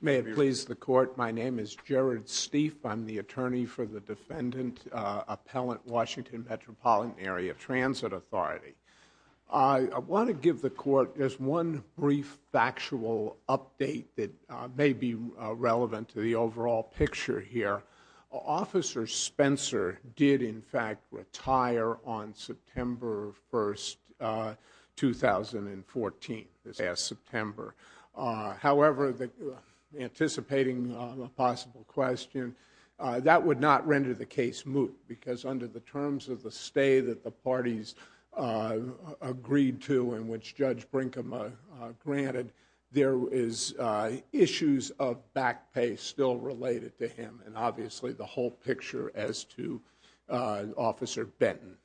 May it please the court, my name is Jared Stief, I'm the attorney for the Defendant Appellant, Washington Metropolitan Area Transit Authority. I want to give the court just one brief factual update that may be relevant to the overall picture here. Officer Spencer did in fact retire on September 1st, 2014, this past September. However, anticipating a possible question, that would not render the case moot, because under the terms of the stay that the parties agreed to and which Judge Brinkum granted, there is issues of back pay still related to him and obviously the whole picture as to Officer Benton.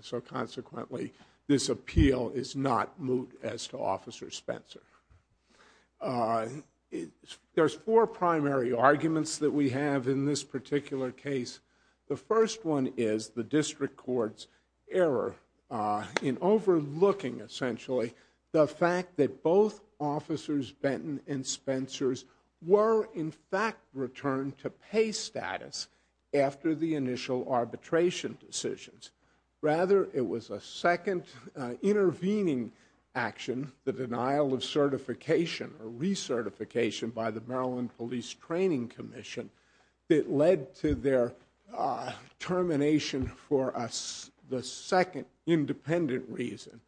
So consequently, this appeal is not moot as to Officer Spencer. There's four primary arguments that we have in this particular case. The first one is the District Court's error in overlooking, essentially, the fact that both Officers Benton and Spencers were in fact returned to pay status after the initial arbitration decisions. Rather, it was a second intervening action, the denial of certification or recertification by the Maryland Police Training Commission, that led to their termination for the second independent reason,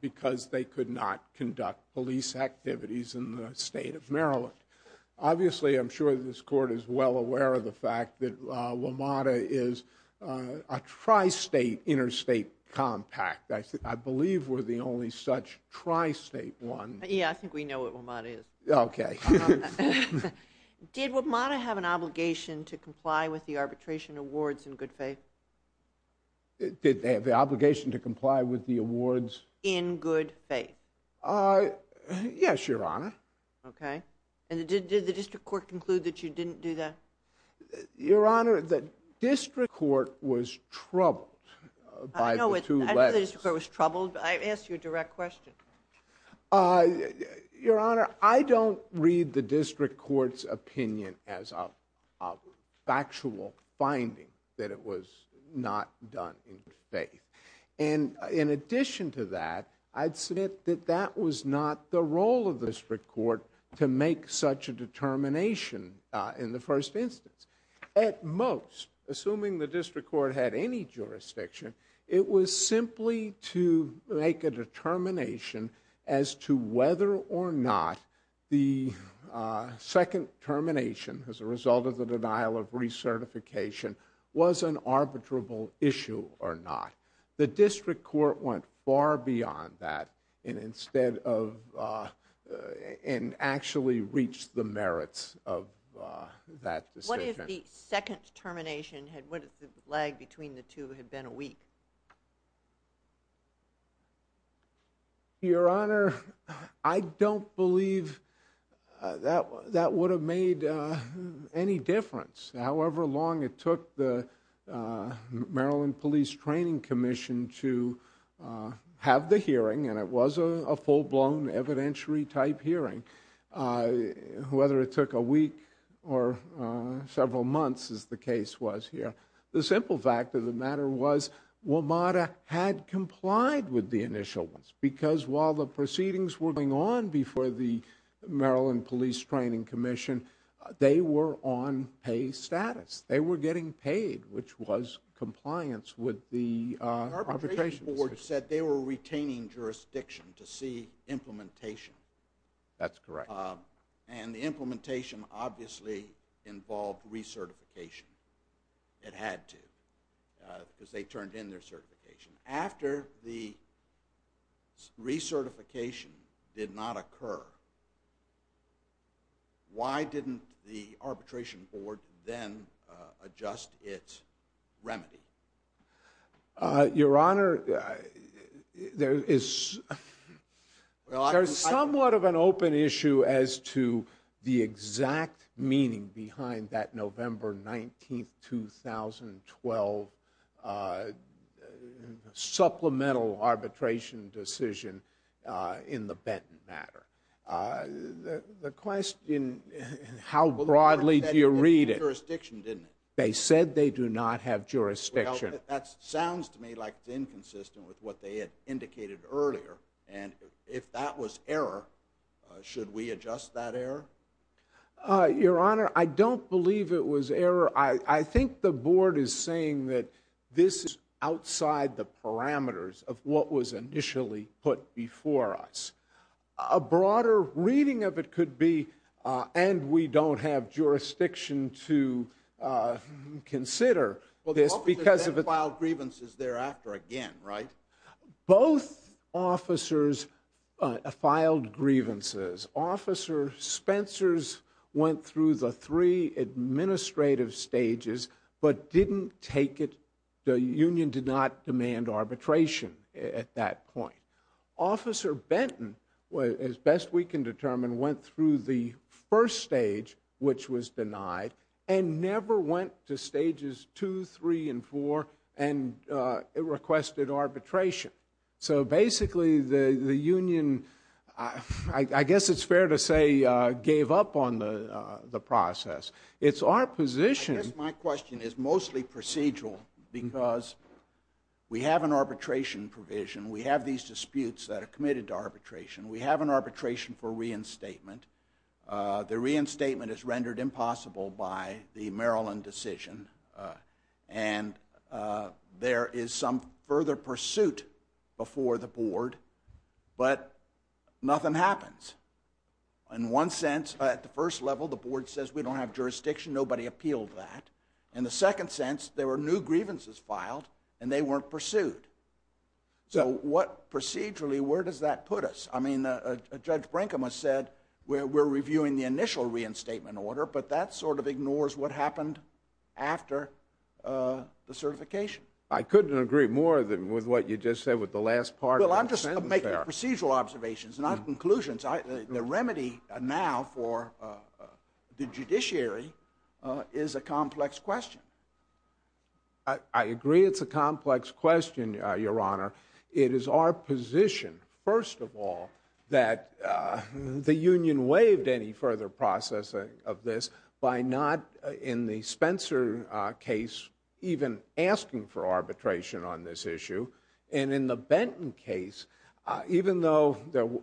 because they could not conduct police activities in the state of Maryland. Obviously, I'm sure this Court is well aware of the fact that WMATA is a tri-state interstate compact. I believe we're the only such tri-state one. Yeah, I think we know what WMATA is. Okay. Did WMATA have an obligation to comply with the arbitration awards in good faith? Did they have the obligation to comply with the awards? In good faith. Yes, Your Honor. Okay. And did the District Court conclude that you didn't do that? Your Honor, the District Court was troubled by the two letters. I know the District Court was troubled, but I asked you a direct question. Your Honor, I don't read the District Court's opinion as a factual finding that it was not done in good faith. And in addition to that, I'd submit that that was not the role of the District Court to make such a determination in the first instance. At most, assuming the District Court had any jurisdiction, it was simply to make a determination as to whether or not the second termination as a result of the denial of recertification was an arbitrable issue or not. The District Court went far beyond that and actually reached the merits of that decision. What if the second termination, what if the lag between the two had been a week? Your Honor, I don't believe that would have made any difference. However long it took the Maryland Police Training Commission to have the hearing, and it was a full-blown evidentiary-type hearing, whether it took a week or several months, as the case was here. The simple fact of the matter was WMATA had complied with the initial ones because while the proceedings were going on before the Maryland Police Training Commission, they were on pay status. They were getting paid, which was compliance with the arbitration decision. The arbitration board said they were retaining jurisdiction to see implementation. That's correct. And the implementation obviously involved recertification. It had to because they turned in their certification. After the recertification did not occur, why didn't the arbitration board then adjust its remedy? Your Honor, there is somewhat of an open issue as to the exact meaning behind that November 19, 2012, supplemental arbitration decision in the Benton matter. The question, how broadly do you read it? They said they didn't have jurisdiction, didn't they? They said they do not have jurisdiction. That sounds to me like it's inconsistent with what they had indicated earlier. And if that was error, should we adjust that error? Your Honor, I don't believe it was error. I think the board is saying that this is outside the parameters of what was initially put before us. A broader reading of it could be, and we don't have jurisdiction to consider this because... Well, the officers then filed grievances thereafter again, right? Both officers filed grievances. Officer Spencers went through the three administrative stages but didn't take it. The union did not demand arbitration at that point. Officer Benton, as best we can determine, went through the first stage which was denied and never went to stages two, three, and four and requested arbitration. So basically the union, I guess it's fair to say, gave up on the process. It's our position... I guess my question is mostly procedural because we have an arbitration provision. We have these disputes that are committed to arbitration. We have an arbitration for reinstatement. The reinstatement is rendered impossible by the Maryland decision. And there is some further pursuit before the board. But nothing happens. In one sense, at the first level, the board says we don't have jurisdiction. Nobody appealed that. In the second sense, there were new grievances filed and they weren't pursued. So what procedurally, where does that put us? I mean, Judge Brinkham has said we're reviewing the initial reinstatement order. But that sort of ignores what happened after the certification. I couldn't agree more with what you just said with the last part of the sentence there. Well, I'm just making procedural observations, not conclusions. The remedy now for the judiciary is a complex question. I agree it's a complex question, Your Honor. It is our position, first of all, that the union waived any further processing of this by not, in the Spencer case, even asking for arbitration on this issue. And in the Benton case, even though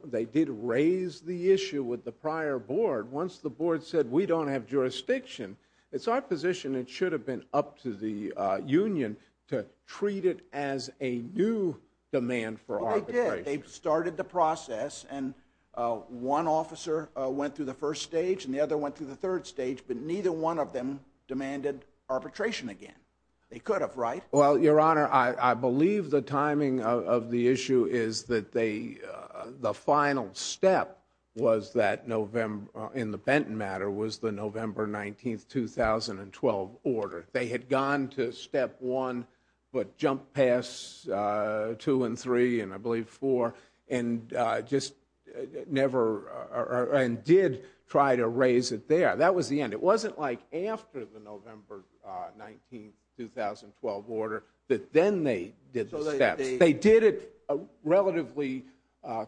they did raise the issue with the prior board, once the board said we don't have jurisdiction, it's our position it should have been up to the union to treat it as a new demand for arbitration. Well, they did. They started the process and one officer went through the first stage and the other went through the third stage. But neither one of them demanded arbitration again. They could have, right? Well, Your Honor, I believe the timing of the issue is that the final step in the Benton matter was the November 19, 2012 order. They had gone to step one but jumped past two and three and I believe four and did try to raise it there. That was the end. It wasn't like after the November 19, 2012 order that then they did the steps. They did it relatively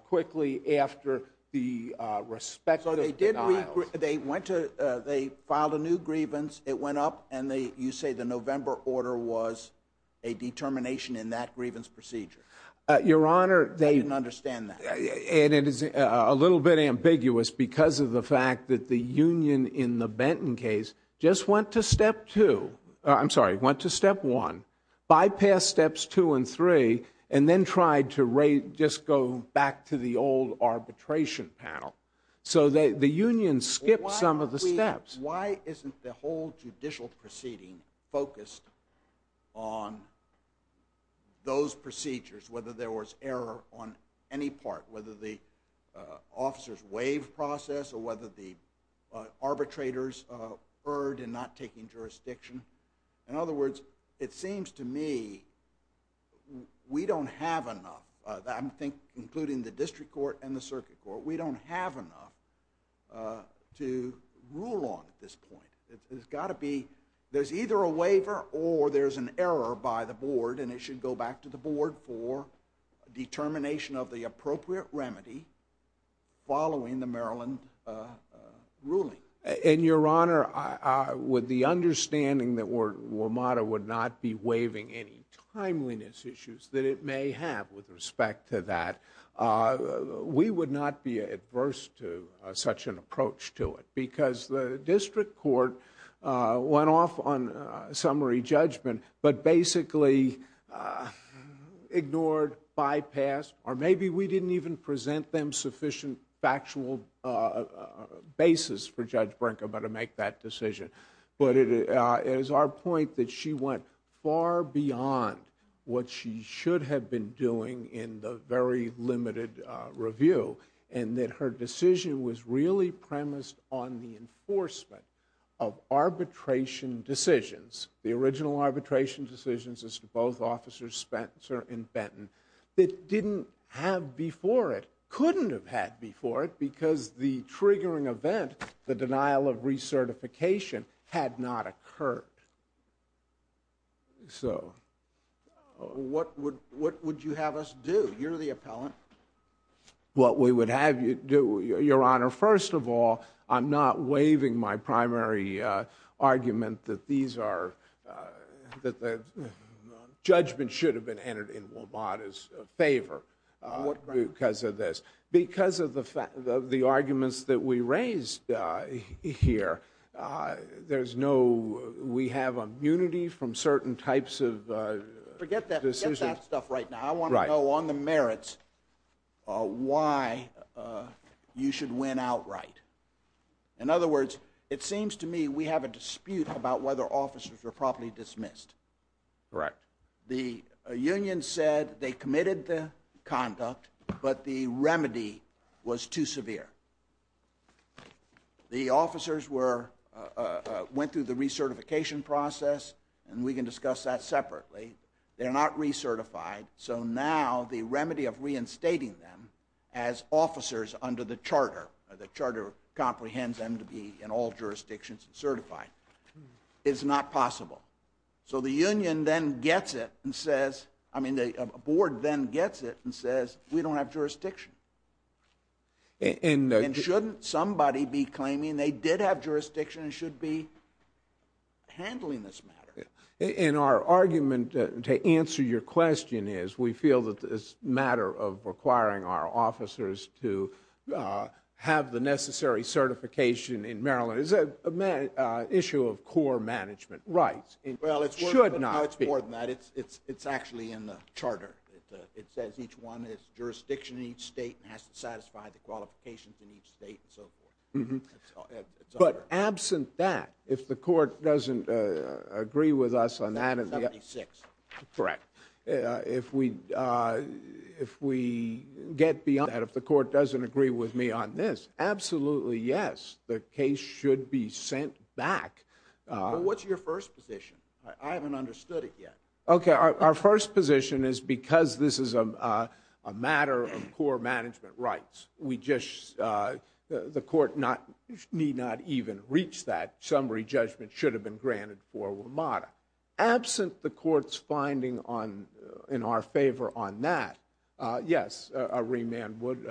quickly after the respective denials. So they filed a new grievance. It went up and you say the November order was a determination in that grievance procedure. I didn't understand that. And it is a little bit ambiguous because of the fact that the union in the Benton case just went to step two. I'm sorry, went to step one, bypassed steps two and three, and then tried to just go back to the old arbitration panel. So the union skipped some of the steps. Why isn't the whole judicial proceeding focused on those procedures, whether there was error on any part, whether the officers waived process, or whether the arbitrators erred in not taking jurisdiction? In other words, it seems to me we don't have enough, I think including the district court and the circuit court, we don't have enough to rule on at this point. There's either a waiver or there's an error by the board and it should go back to the board for determination of the appropriate remedy following the Maryland ruling. And, Your Honor, with the understanding that WMATA would not be waiving any timeliness issues that it may have with respect to that, we would not be adverse to such an approach to it because the district court went off on summary judgment but basically ignored, bypassed, or maybe we didn't even present them sufficient factual basis for Judge Brinkeman to make that decision. But it is our point that she went far beyond what she should have been doing in the very limited review and that her decision was really premised on the enforcement of arbitration decisions, the original arbitration decisions as to both officers Spencer and Benton, that didn't have before it, couldn't have had before it, because the triggering event, the denial of recertification, had not occurred. So, what would you have us do? You're the appellant. What we would have you do, Your Honor, first of all, I'm not waiving my primary argument that these are, that the judgment should have been entered in WMATA's favor because of this. Because of the arguments that we raised here, there's no, we have immunity from certain types of decisions. Forget that stuff right now. I want to know on the merits why you should win outright. In other words, it seems to me we have a dispute about whether officers were properly dismissed. Correct. The union said they committed the conduct, but the remedy was too severe. The officers were, went through the recertification process, and we can discuss that separately. They're not recertified, so now the remedy of reinstating them as officers under the charter, the charter comprehends them to be in all jurisdictions and certified, is not possible. So the union then gets it and says, I mean the board then gets it and says, we don't have jurisdiction. And shouldn't somebody be claiming they did have jurisdiction and should be handling this matter? And our argument to answer your question is, we feel that this matter of requiring our officers to have the necessary certification in Maryland is an issue of core management rights. Well, it's more than that. It's actually in the charter. It says each one has jurisdiction in each state and has to satisfy the qualifications in each state and so forth. But absent that, if the court doesn't agree with us on that. 76. Correct. If we get beyond that, if the court doesn't agree with me on this, absolutely yes, the case should be sent back. Well, what's your first position? I haven't understood it yet. Okay, our first position is because this is a matter of core management rights. The court need not even reach that. Summary judgment should have been granted for WMATA. Absent the court's finding in our favor on that, yes, a remand would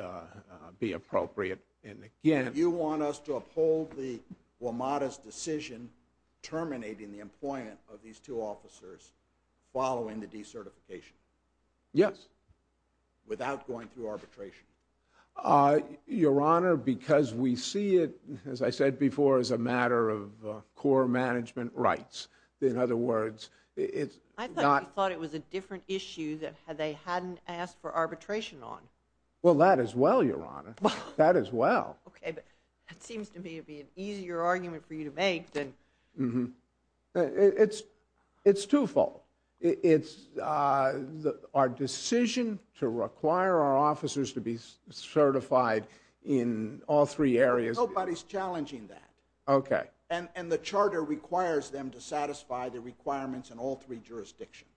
be appropriate. Do you want us to uphold the WMATA's decision terminating the employment of these two officers following the decertification? Yes. Without going through arbitration? Your Honor, because we see it, as I said before, as a matter of core management rights. In other words, it's not... I thought you thought it was a different issue that they hadn't asked for arbitration on. Well, that as well, Your Honor. That as well. Okay, but that seems to me to be an easier argument for you to make than... Mm-hmm. It's twofold. It's our decision to require our officers to be certified in all three areas... Nobody's challenging that. Okay. And the charter requires them to satisfy the requirements in all three jurisdictions.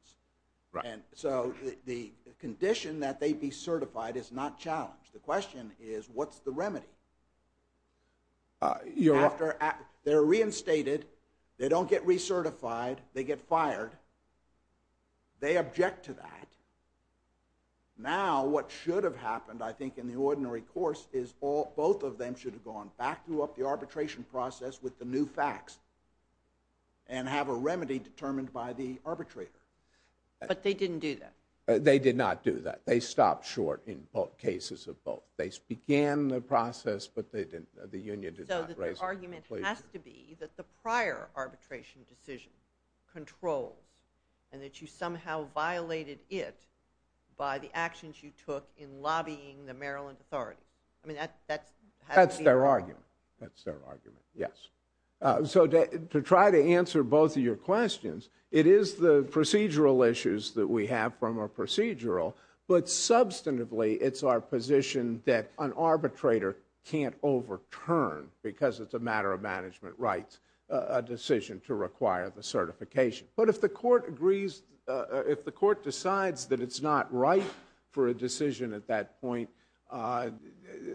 And so the condition that they be certified is not challenged. The question is, what's the remedy? After they're reinstated, they don't get recertified, they get fired, they object to that. Now, what should have happened, I think, in the ordinary course, is both of them should have gone back through the arbitration process with the new facts and have a remedy determined by the arbitrator. But they didn't do that. They did not do that. They stopped short in cases of both. They began the process, but the union did not raise it. Your argument has to be that the prior arbitration decision controls and that you somehow violated it by the actions you took in lobbying the Maryland authority. I mean, that's... That's their argument. That's their argument, yes. So to try to answer both of your questions, it is the procedural issues that we have from a procedural, but substantively, it's our position that an arbitrator can't overturn because it's a matter of management rights, a decision to require the certification. But if the court agrees... If the court decides that it's not right for a decision at that point,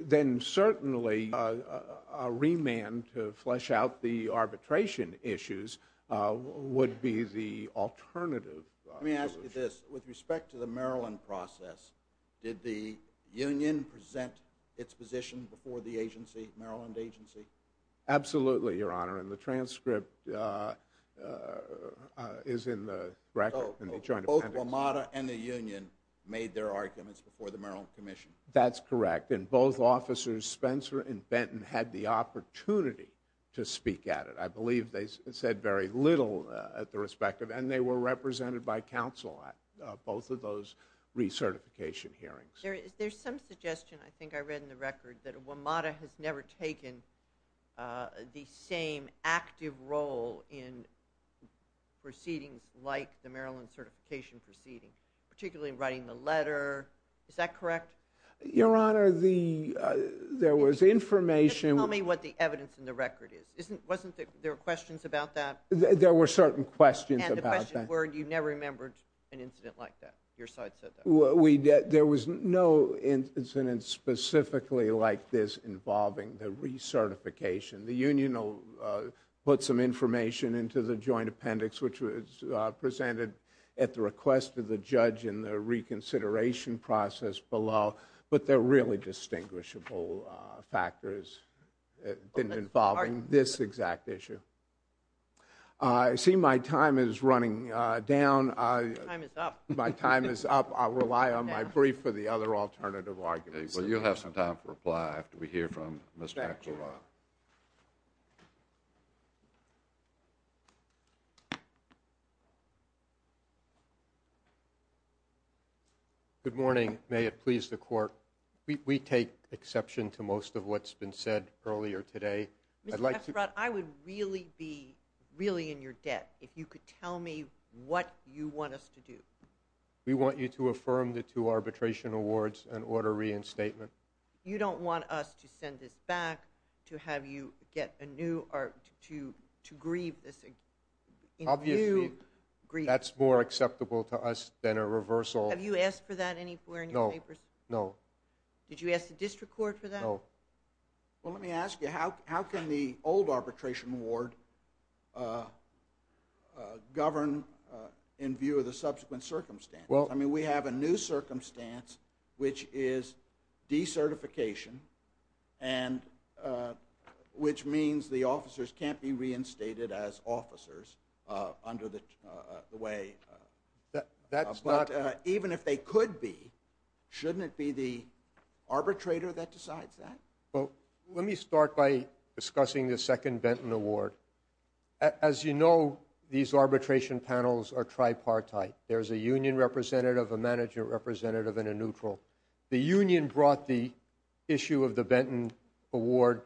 then certainly a remand to flesh out the arbitration issues would be the alternative solution. Let me ask you this. With respect to the Maryland process, did the union present its position before the agency, Maryland agency? Absolutely, Your Honor, and the transcript is in the record. Both WMATA and the union made their arguments before the Maryland Commission. That's correct, and both officers, Spencer and Benton, had the opportunity to speak at it. I believe they said very little at the respective, and they were represented by counsel at both of those recertification hearings. There's some suggestion, I think I read in the record, that WMATA has never taken the same active role in proceedings like the Maryland certification proceeding, particularly in writing the letter. Is that correct? Your Honor, there was information... Just tell me what the evidence in the record is. Wasn't there questions about that? There were certain questions about that. And the questions were, you've never remembered an incident like that? Your side said that. There was no incident specifically like this involving the recertification. The union put some information into the joint appendix, which was presented at the request of the judge in the reconsideration process below, but there are really distinguishable factors involving this exact issue. I see my time is running down. Your time is up. My time is up. I'll rely on my brief for the other alternative arguments. Well, you'll have some time to reply after we hear from Mr. Esterad. Good morning. May it please the Court. We take exception to most of what's been said earlier today. Mr. Esterad, I would really be in your debt if you could tell me what you want us to do. We want you to affirm the two arbitration awards and order reinstatement. You don't want us to send this back to have you get a new... to grieve this... Obviously, that's more acceptable to us than a reversal. Have you asked for that anywhere in your papers? No. Did you ask the district court for that? No. Well, let me ask you. How can the old arbitration award govern in view of the subsequent circumstances? I mean, we have a new circumstance, which is decertification, which means the officers can't be reinstated as officers under the way... That's not... Well, let me start by discussing the second Benton award. As you know, these arbitration panels are tripartite. There's a union representative, a manager representative, and a neutral. The union brought the issue of the Benton award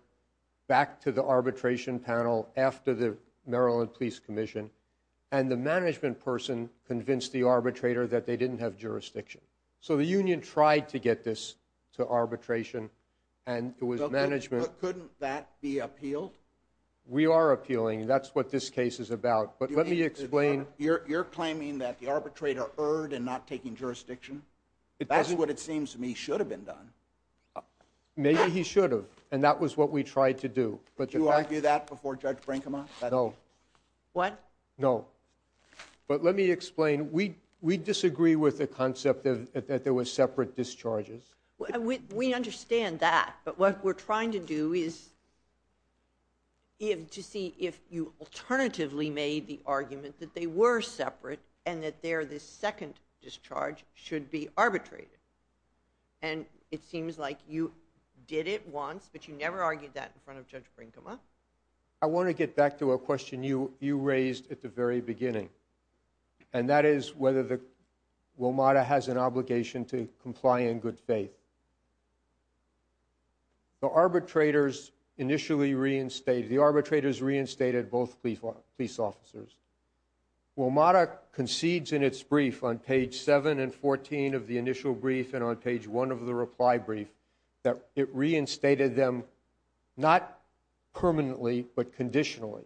back to the arbitration panel after the Maryland Police Commission, and the management person convinced the arbitrator that they didn't have jurisdiction. So the union tried to get this to arbitration, and it was management... Couldn't that be appealed? We are appealing. That's what this case is about. But let me explain... You're claiming that the arbitrator erred in not taking jurisdiction? That's what it seems to me should have been done. Maybe he should have, and that was what we tried to do. Did you argue that before Judge Brinkman? No. What? No. But let me explain. We disagree with the concept that there were separate discharges. We understand that. But what we're trying to do is to see if you alternatively made the argument that they were separate and that their second discharge should be arbitrated. And it seems like you did it once, but you never argued that in front of Judge Brinkman. I want to get back to a question you raised at the very beginning. And that is whether WMATA has an obligation to comply in good faith. The arbitrators initially reinstated... The arbitrators reinstated both police officers. WMATA concedes in its brief on page 7 and 14 of the initial brief and on page 1 of the reply brief that it reinstated them not permanently but conditionally.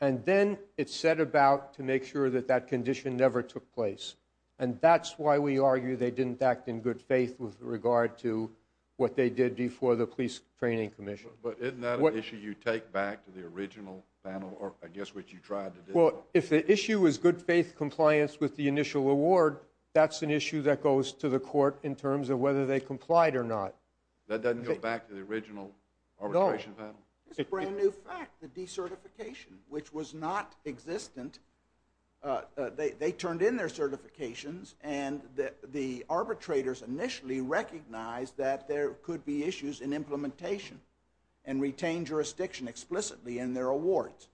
And then it set about to make sure that that condition never took place. And that's why we argue they didn't act in good faith with regard to what they did before the Police Training Commission. But isn't that an issue you take back to the original panel, or I guess what you tried to do? Well, if the issue is good faith compliance with the initial award, that's an issue that goes to the court in terms of whether they complied or not. That doesn't go back to the original arbitration panel? No. It's a brand new fact, the decertification, which was not existent. They turned in their certifications, and the arbitrators initially recognized that there could be issues in implementation and retained jurisdiction explicitly in their awards.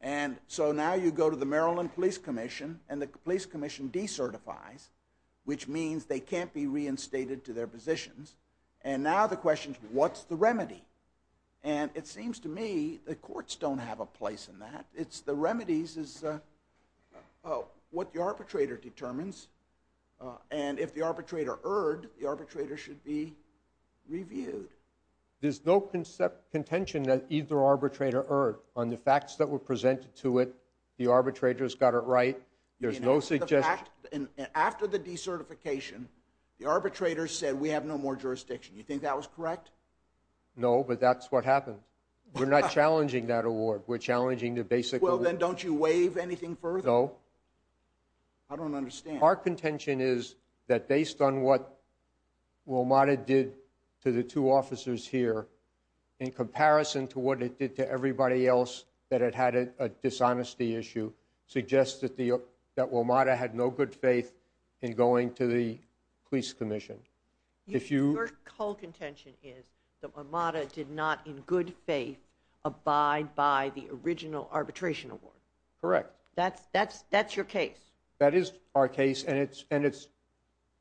And so now you go to the Maryland Police Commission and the Police Commission decertifies, which means they can't be reinstated to their positions. And now the question is, what's the remedy? And it seems to me the courts don't have a place in that. The remedy is what the arbitrator determines. And if the arbitrator erred, the arbitrator should be reviewed. There's no contention that either arbitrator erred. On the facts that were presented to it, the arbitrators got it right. There's no suggestion. After the decertification, the arbitrators said we have no more jurisdiction. You think that was correct? No, but that's what happened. We're not challenging that award. We're challenging the basic... Well, then don't you waive anything further? No. I don't understand. Our contention is that based on what WMATA did to the two officers here, in comparison to what it did to everybody else that had had a dishonesty issue, suggests that WMATA had no good faith in going to the Police Commission. Your whole contention is that WMATA did not, in good faith, abide by the original arbitration award. Correct. That's your case? That is our case, and it's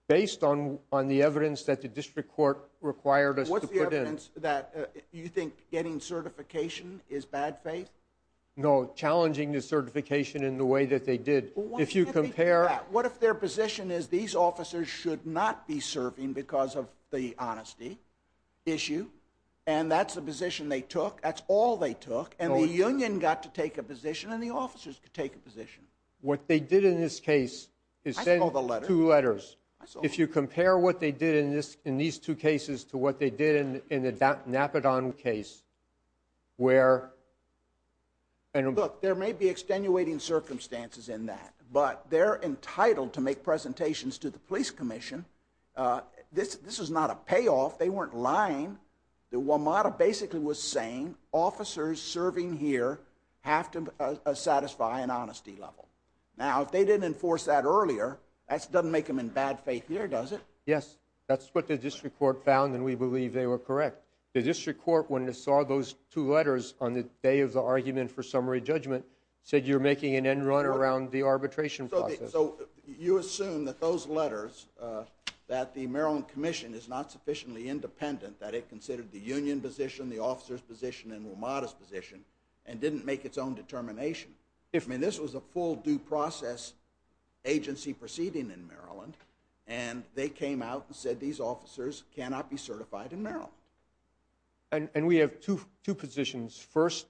based on the evidence that the district court required us to put in. What's the evidence that you think getting certification is bad faith? No, challenging the certification in the way that they did. If you compare... What if their position is these officers should not be serving because of the honesty issue, and that's the position they took, that's all they took, and the union got to take a position and the officers could take a position? What they did in this case is send two letters. If you compare what they did in these two cases to what they did in the Napadon case, where... Look, there may be extenuating circumstances in that, but they're entitled to make presentations to the Police Commission. This is not a payoff. They weren't lying. The WMATA basically was saying officers serving here have to satisfy an honesty level. Now, if they didn't enforce that earlier, that doesn't make them in bad faith here, does it? Yes, that's what the district court found, and we believe they were correct. The district court, when it saw those two letters on the day of the argument for summary judgment, said you're making an end run around the arbitration process. So you assume that those letters, that the Maryland Commission is not sufficiently independent, that it considered the union position, the officers' position, and WMATA's position, and didn't make its own determination. I mean, this was a full due process agency proceeding in Maryland, and they came out and said these officers cannot be certified in Maryland. And we have two positions. First,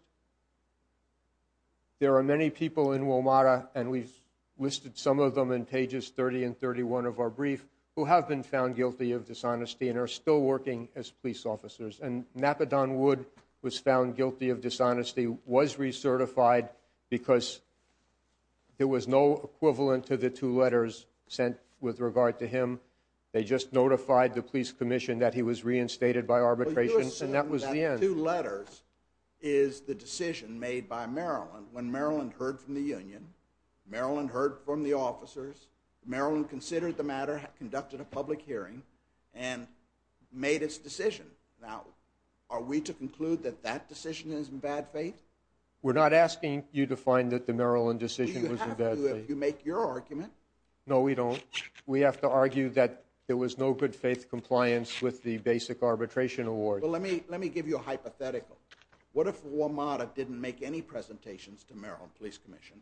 there are many people in WMATA, and we've listed some of them in pages 30 and 31 of our brief, who have been found guilty of dishonesty and are still working as police officers. And Napadon Wood was found guilty of dishonesty, was recertified, because there was no equivalent to the two letters sent with regard to him. They just notified the police commission that he was reinstated by arbitration, and that was the end. Well, you assume that two letters is the decision made by Maryland when Maryland heard from the union, Maryland heard from the officers, Maryland considered the matter, conducted a public hearing, and made its decision. Now, are we to conclude that that decision is in bad faith? We're not asking you to find that the Maryland decision was in bad faith. Do you have to if you make your argument? No, we don't. We have to argue that there was no good faith compliance with the basic arbitration award. Well, let me give you a hypothetical. What if WMATA didn't make any presentations to Maryland Police Commission,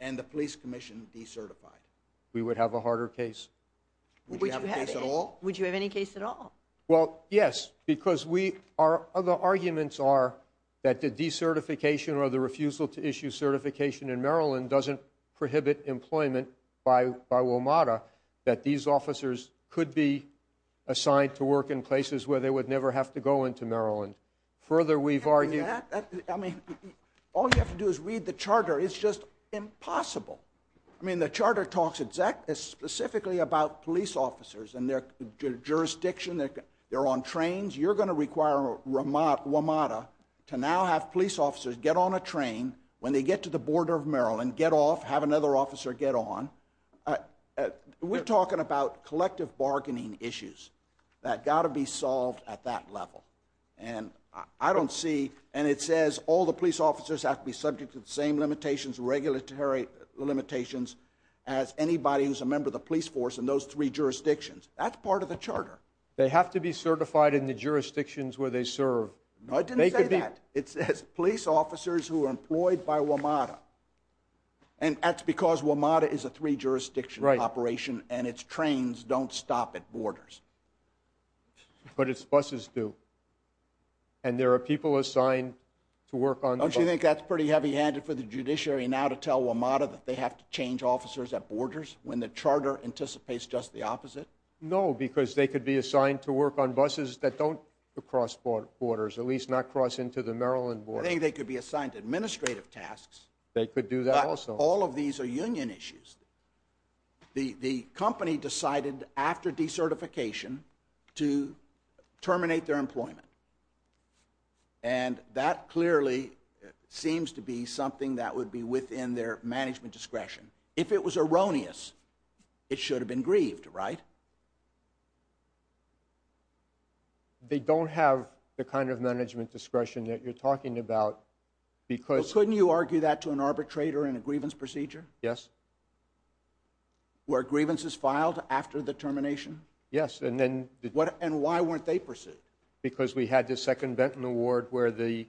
and the police commission decertified? We would have a harder case. Would you have a case at all? Would you have any case at all? Well, yes, because our other arguments are that the decertification or the refusal to issue certification in Maryland doesn't prohibit employment by WMATA, that these officers could be assigned to work in places where they would never have to go into Maryland. Further, we've argued... I mean, all you have to do is read the charter. It's just impossible. I mean, the charter talks specifically about police officers and their jurisdiction. They're on trains. You're going to require WMATA to now have police officers get on a train when they get to the border of Maryland, get off, have another officer get on. We're talking about collective bargaining issues that got to be solved at that level. And I don't see... And it says all the police officers have to be subject to the same limitations, regulatory limitations, as anybody who's a member of the police force in those three jurisdictions. That's part of the charter. They have to be certified in the jurisdictions where they serve. I didn't say that. It says police officers who are employed by WMATA. And that's because WMATA is a three-jurisdiction operation, and its trains don't stop at borders. But its buses do. And there are people assigned to work on the buses. Don't you think that's pretty heavy-handed for the judiciary now to tell WMATA that they have to change officers at borders when the charter anticipates just the opposite? No, because they could be assigned to work on buses that don't cross borders, at least not cross into the Maryland border. I think they could be assigned administrative tasks. They could do that also. But all of these are union issues. The company decided after decertification to terminate their employment. And that clearly seems to be something that would be within their management discretion. If it was erroneous, it should have been grieved, right? They don't have the kind of management discretion that you're talking about because... Well, couldn't you argue that to an arbitrator in a grievance procedure? Yes. Where grievance is filed after the termination? Yes, and then... And why weren't they pursued? Because we had the second Benton Award where the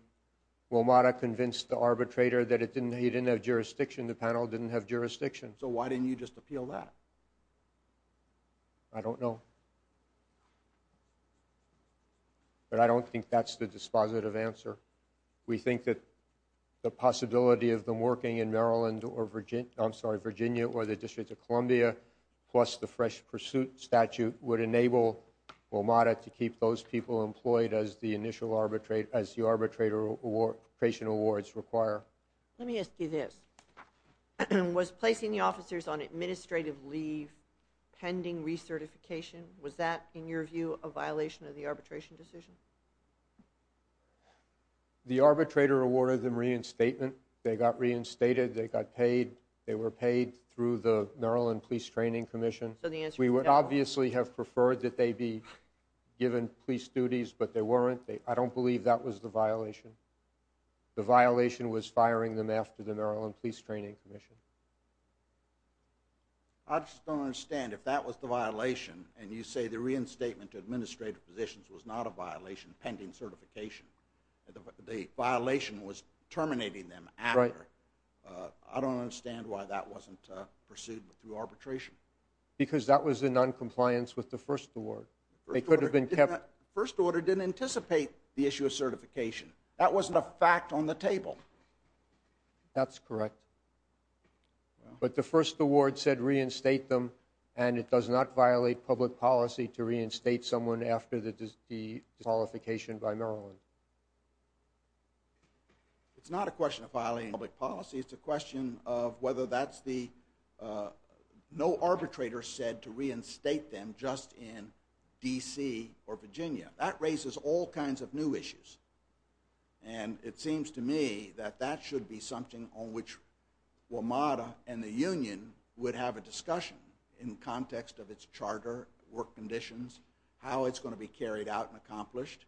WMATA convinced the arbitrator that he didn't have jurisdiction, the panel didn't have jurisdiction. So why didn't you just appeal that? I don't know. But I don't think that's the dispositive answer. We think that the possibility of them working in Virginia or the District of Columbia plus the fresh pursuit statute would enable WMATA to keep those people employed as the arbitration awards require. Let me ask you this. Was placing the officers on administrative leave pending recertification? Was that, in your view, a violation of the arbitration decision? The arbitrator awarded them reinstatement. They got reinstated, they got paid. They were paid through the Maryland Police Training Commission. We would obviously have preferred that they be given police duties, but they weren't. I don't believe that was the violation. The violation was firing them after the Maryland Police Training Commission. I just don't understand. If that was the violation and you say the reinstatement to administrative positions was not a violation pending certification, the violation was terminating them after, I don't understand why that wasn't pursued through arbitration. Because that was in noncompliance with the first award. First order didn't anticipate the issue of certification. That wasn't a fact on the table. That's correct. But the first award said reinstate them and it does not violate public policy to reinstate someone after the disqualification by Maryland. It's not a question of violating public policy. It's a question of whether that's the, no arbitrator said to reinstate them just in D.C. or Virginia. That raises all kinds of new issues. And it seems to me that that should be something on which WMATA and the union would have a discussion in context of its charter, work conditions, how it's going to be carried out and accomplished.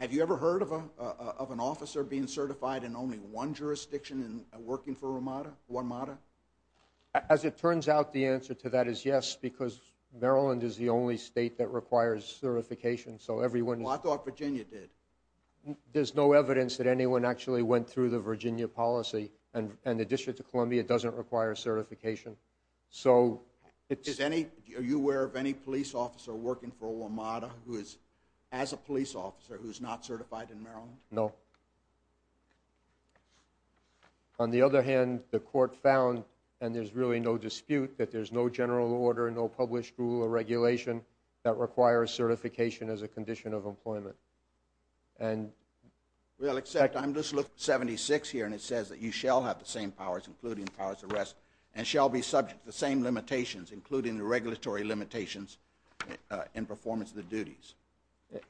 Have you ever heard of an officer being certified in only one jurisdiction and working for WMATA? As it turns out, the answer to that is yes, because Maryland is the only state that requires certification. So everyone... Well, I thought Virginia did. There's no evidence that anyone actually went through the Virginia policy. And the District of Columbia doesn't require certification. So it's... Are you aware of any police officer working for WMATA who is, as a police officer, who's not certified in Maryland? No. On the other hand, the court found, and there's really no dispute, that there's no general order, no published rule or regulation that requires certification as a condition of employment. And... Well, except, I'm just looking at 76 here and it says that you shall have the same powers including powers of arrest and shall be subject to the same limitations including the regulatory limitations in performance of the duties.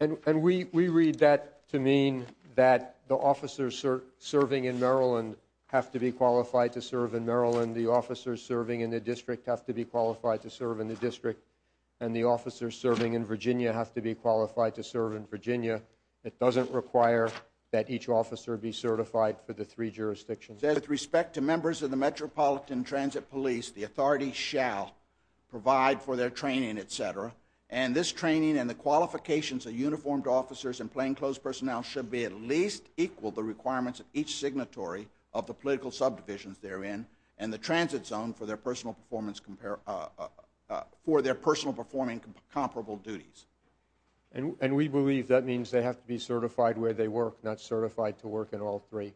And we read that to mean that the officers serving in Maryland have to be qualified to serve in Maryland, the officers serving in the District have to be qualified to serve in the District, and the officers serving in Virginia have to be qualified to serve in Virginia. It doesn't require that each officer be certified for the three jurisdictions. It says, with respect to members of the Metropolitan Transit Police, the authority shall provide for their training, etc. And this training and the qualifications of uniformed officers and plainclothes personnel should be at least equal to the requirements of each signatory of the political subdivisions they're in and the transit zone for their personal performance... for their personal performing comparable duties. And we believe that means they have to be certified where they work, not certified to work in all three.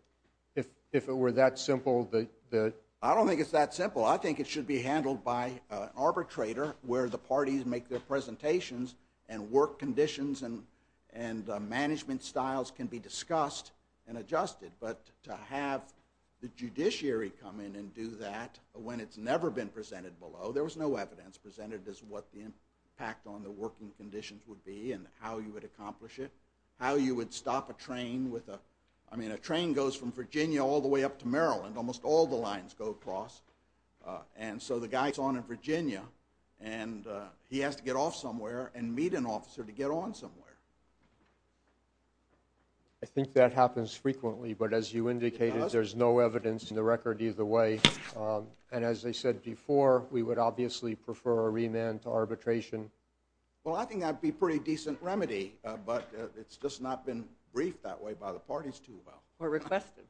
If it were that simple, the... I don't think it's that simple. I think it should be handled by an arbitrator where the parties make their presentations and work conditions and management styles can be discussed and adjusted. But to have the judiciary come in and do that when it's never been presented below, there was no evidence presented as what the impact on the working conditions would be and how you would accomplish it, how you would stop a train with a... I mean, a train goes from Virginia all the way up to Maryland. Almost all the lines go across. And so the guy's on in Virginia, and he has to get off somewhere and meet an officer to get on somewhere. I think that happens frequently, but as you indicated, there's no evidence in the record either way. And as I said before, we would obviously prefer a remand to arbitration. Well, I think that would be a pretty decent remedy, but it's just not been briefed that way by the parties too well. Or requested.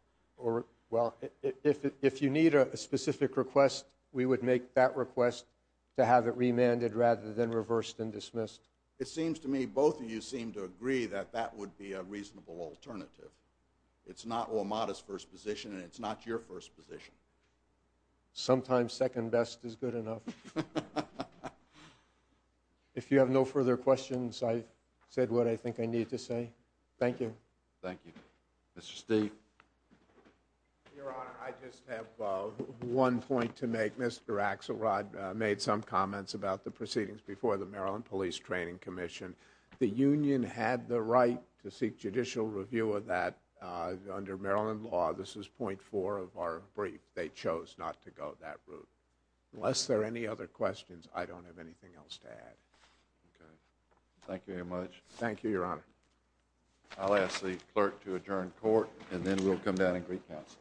Well, if you need a specific request, we would make that request to have it remanded rather than reversed and dismissed. It seems to me both of you seem to agree that that would be a reasonable alternative. It's not OMADA's first position, and it's not your first position. Sometimes second best is good enough. If you have no further questions, I've said what I think I need to say. Thank you. Thank you. Mr. Steeve. Your Honor, I just have one point to make. Mr. Axelrod made some comments about the proceedings before the Maryland Police Training Commission. The union had the right to seek judicial review of that. Under Maryland law, this is point four of our brief, they chose not to go that route. Unless there are any other questions, I don't have anything else to add. Okay. Thank you very much. Thank you, Your Honor. I'll ask the clerk to adjourn court, and then we'll come down and greet counsel.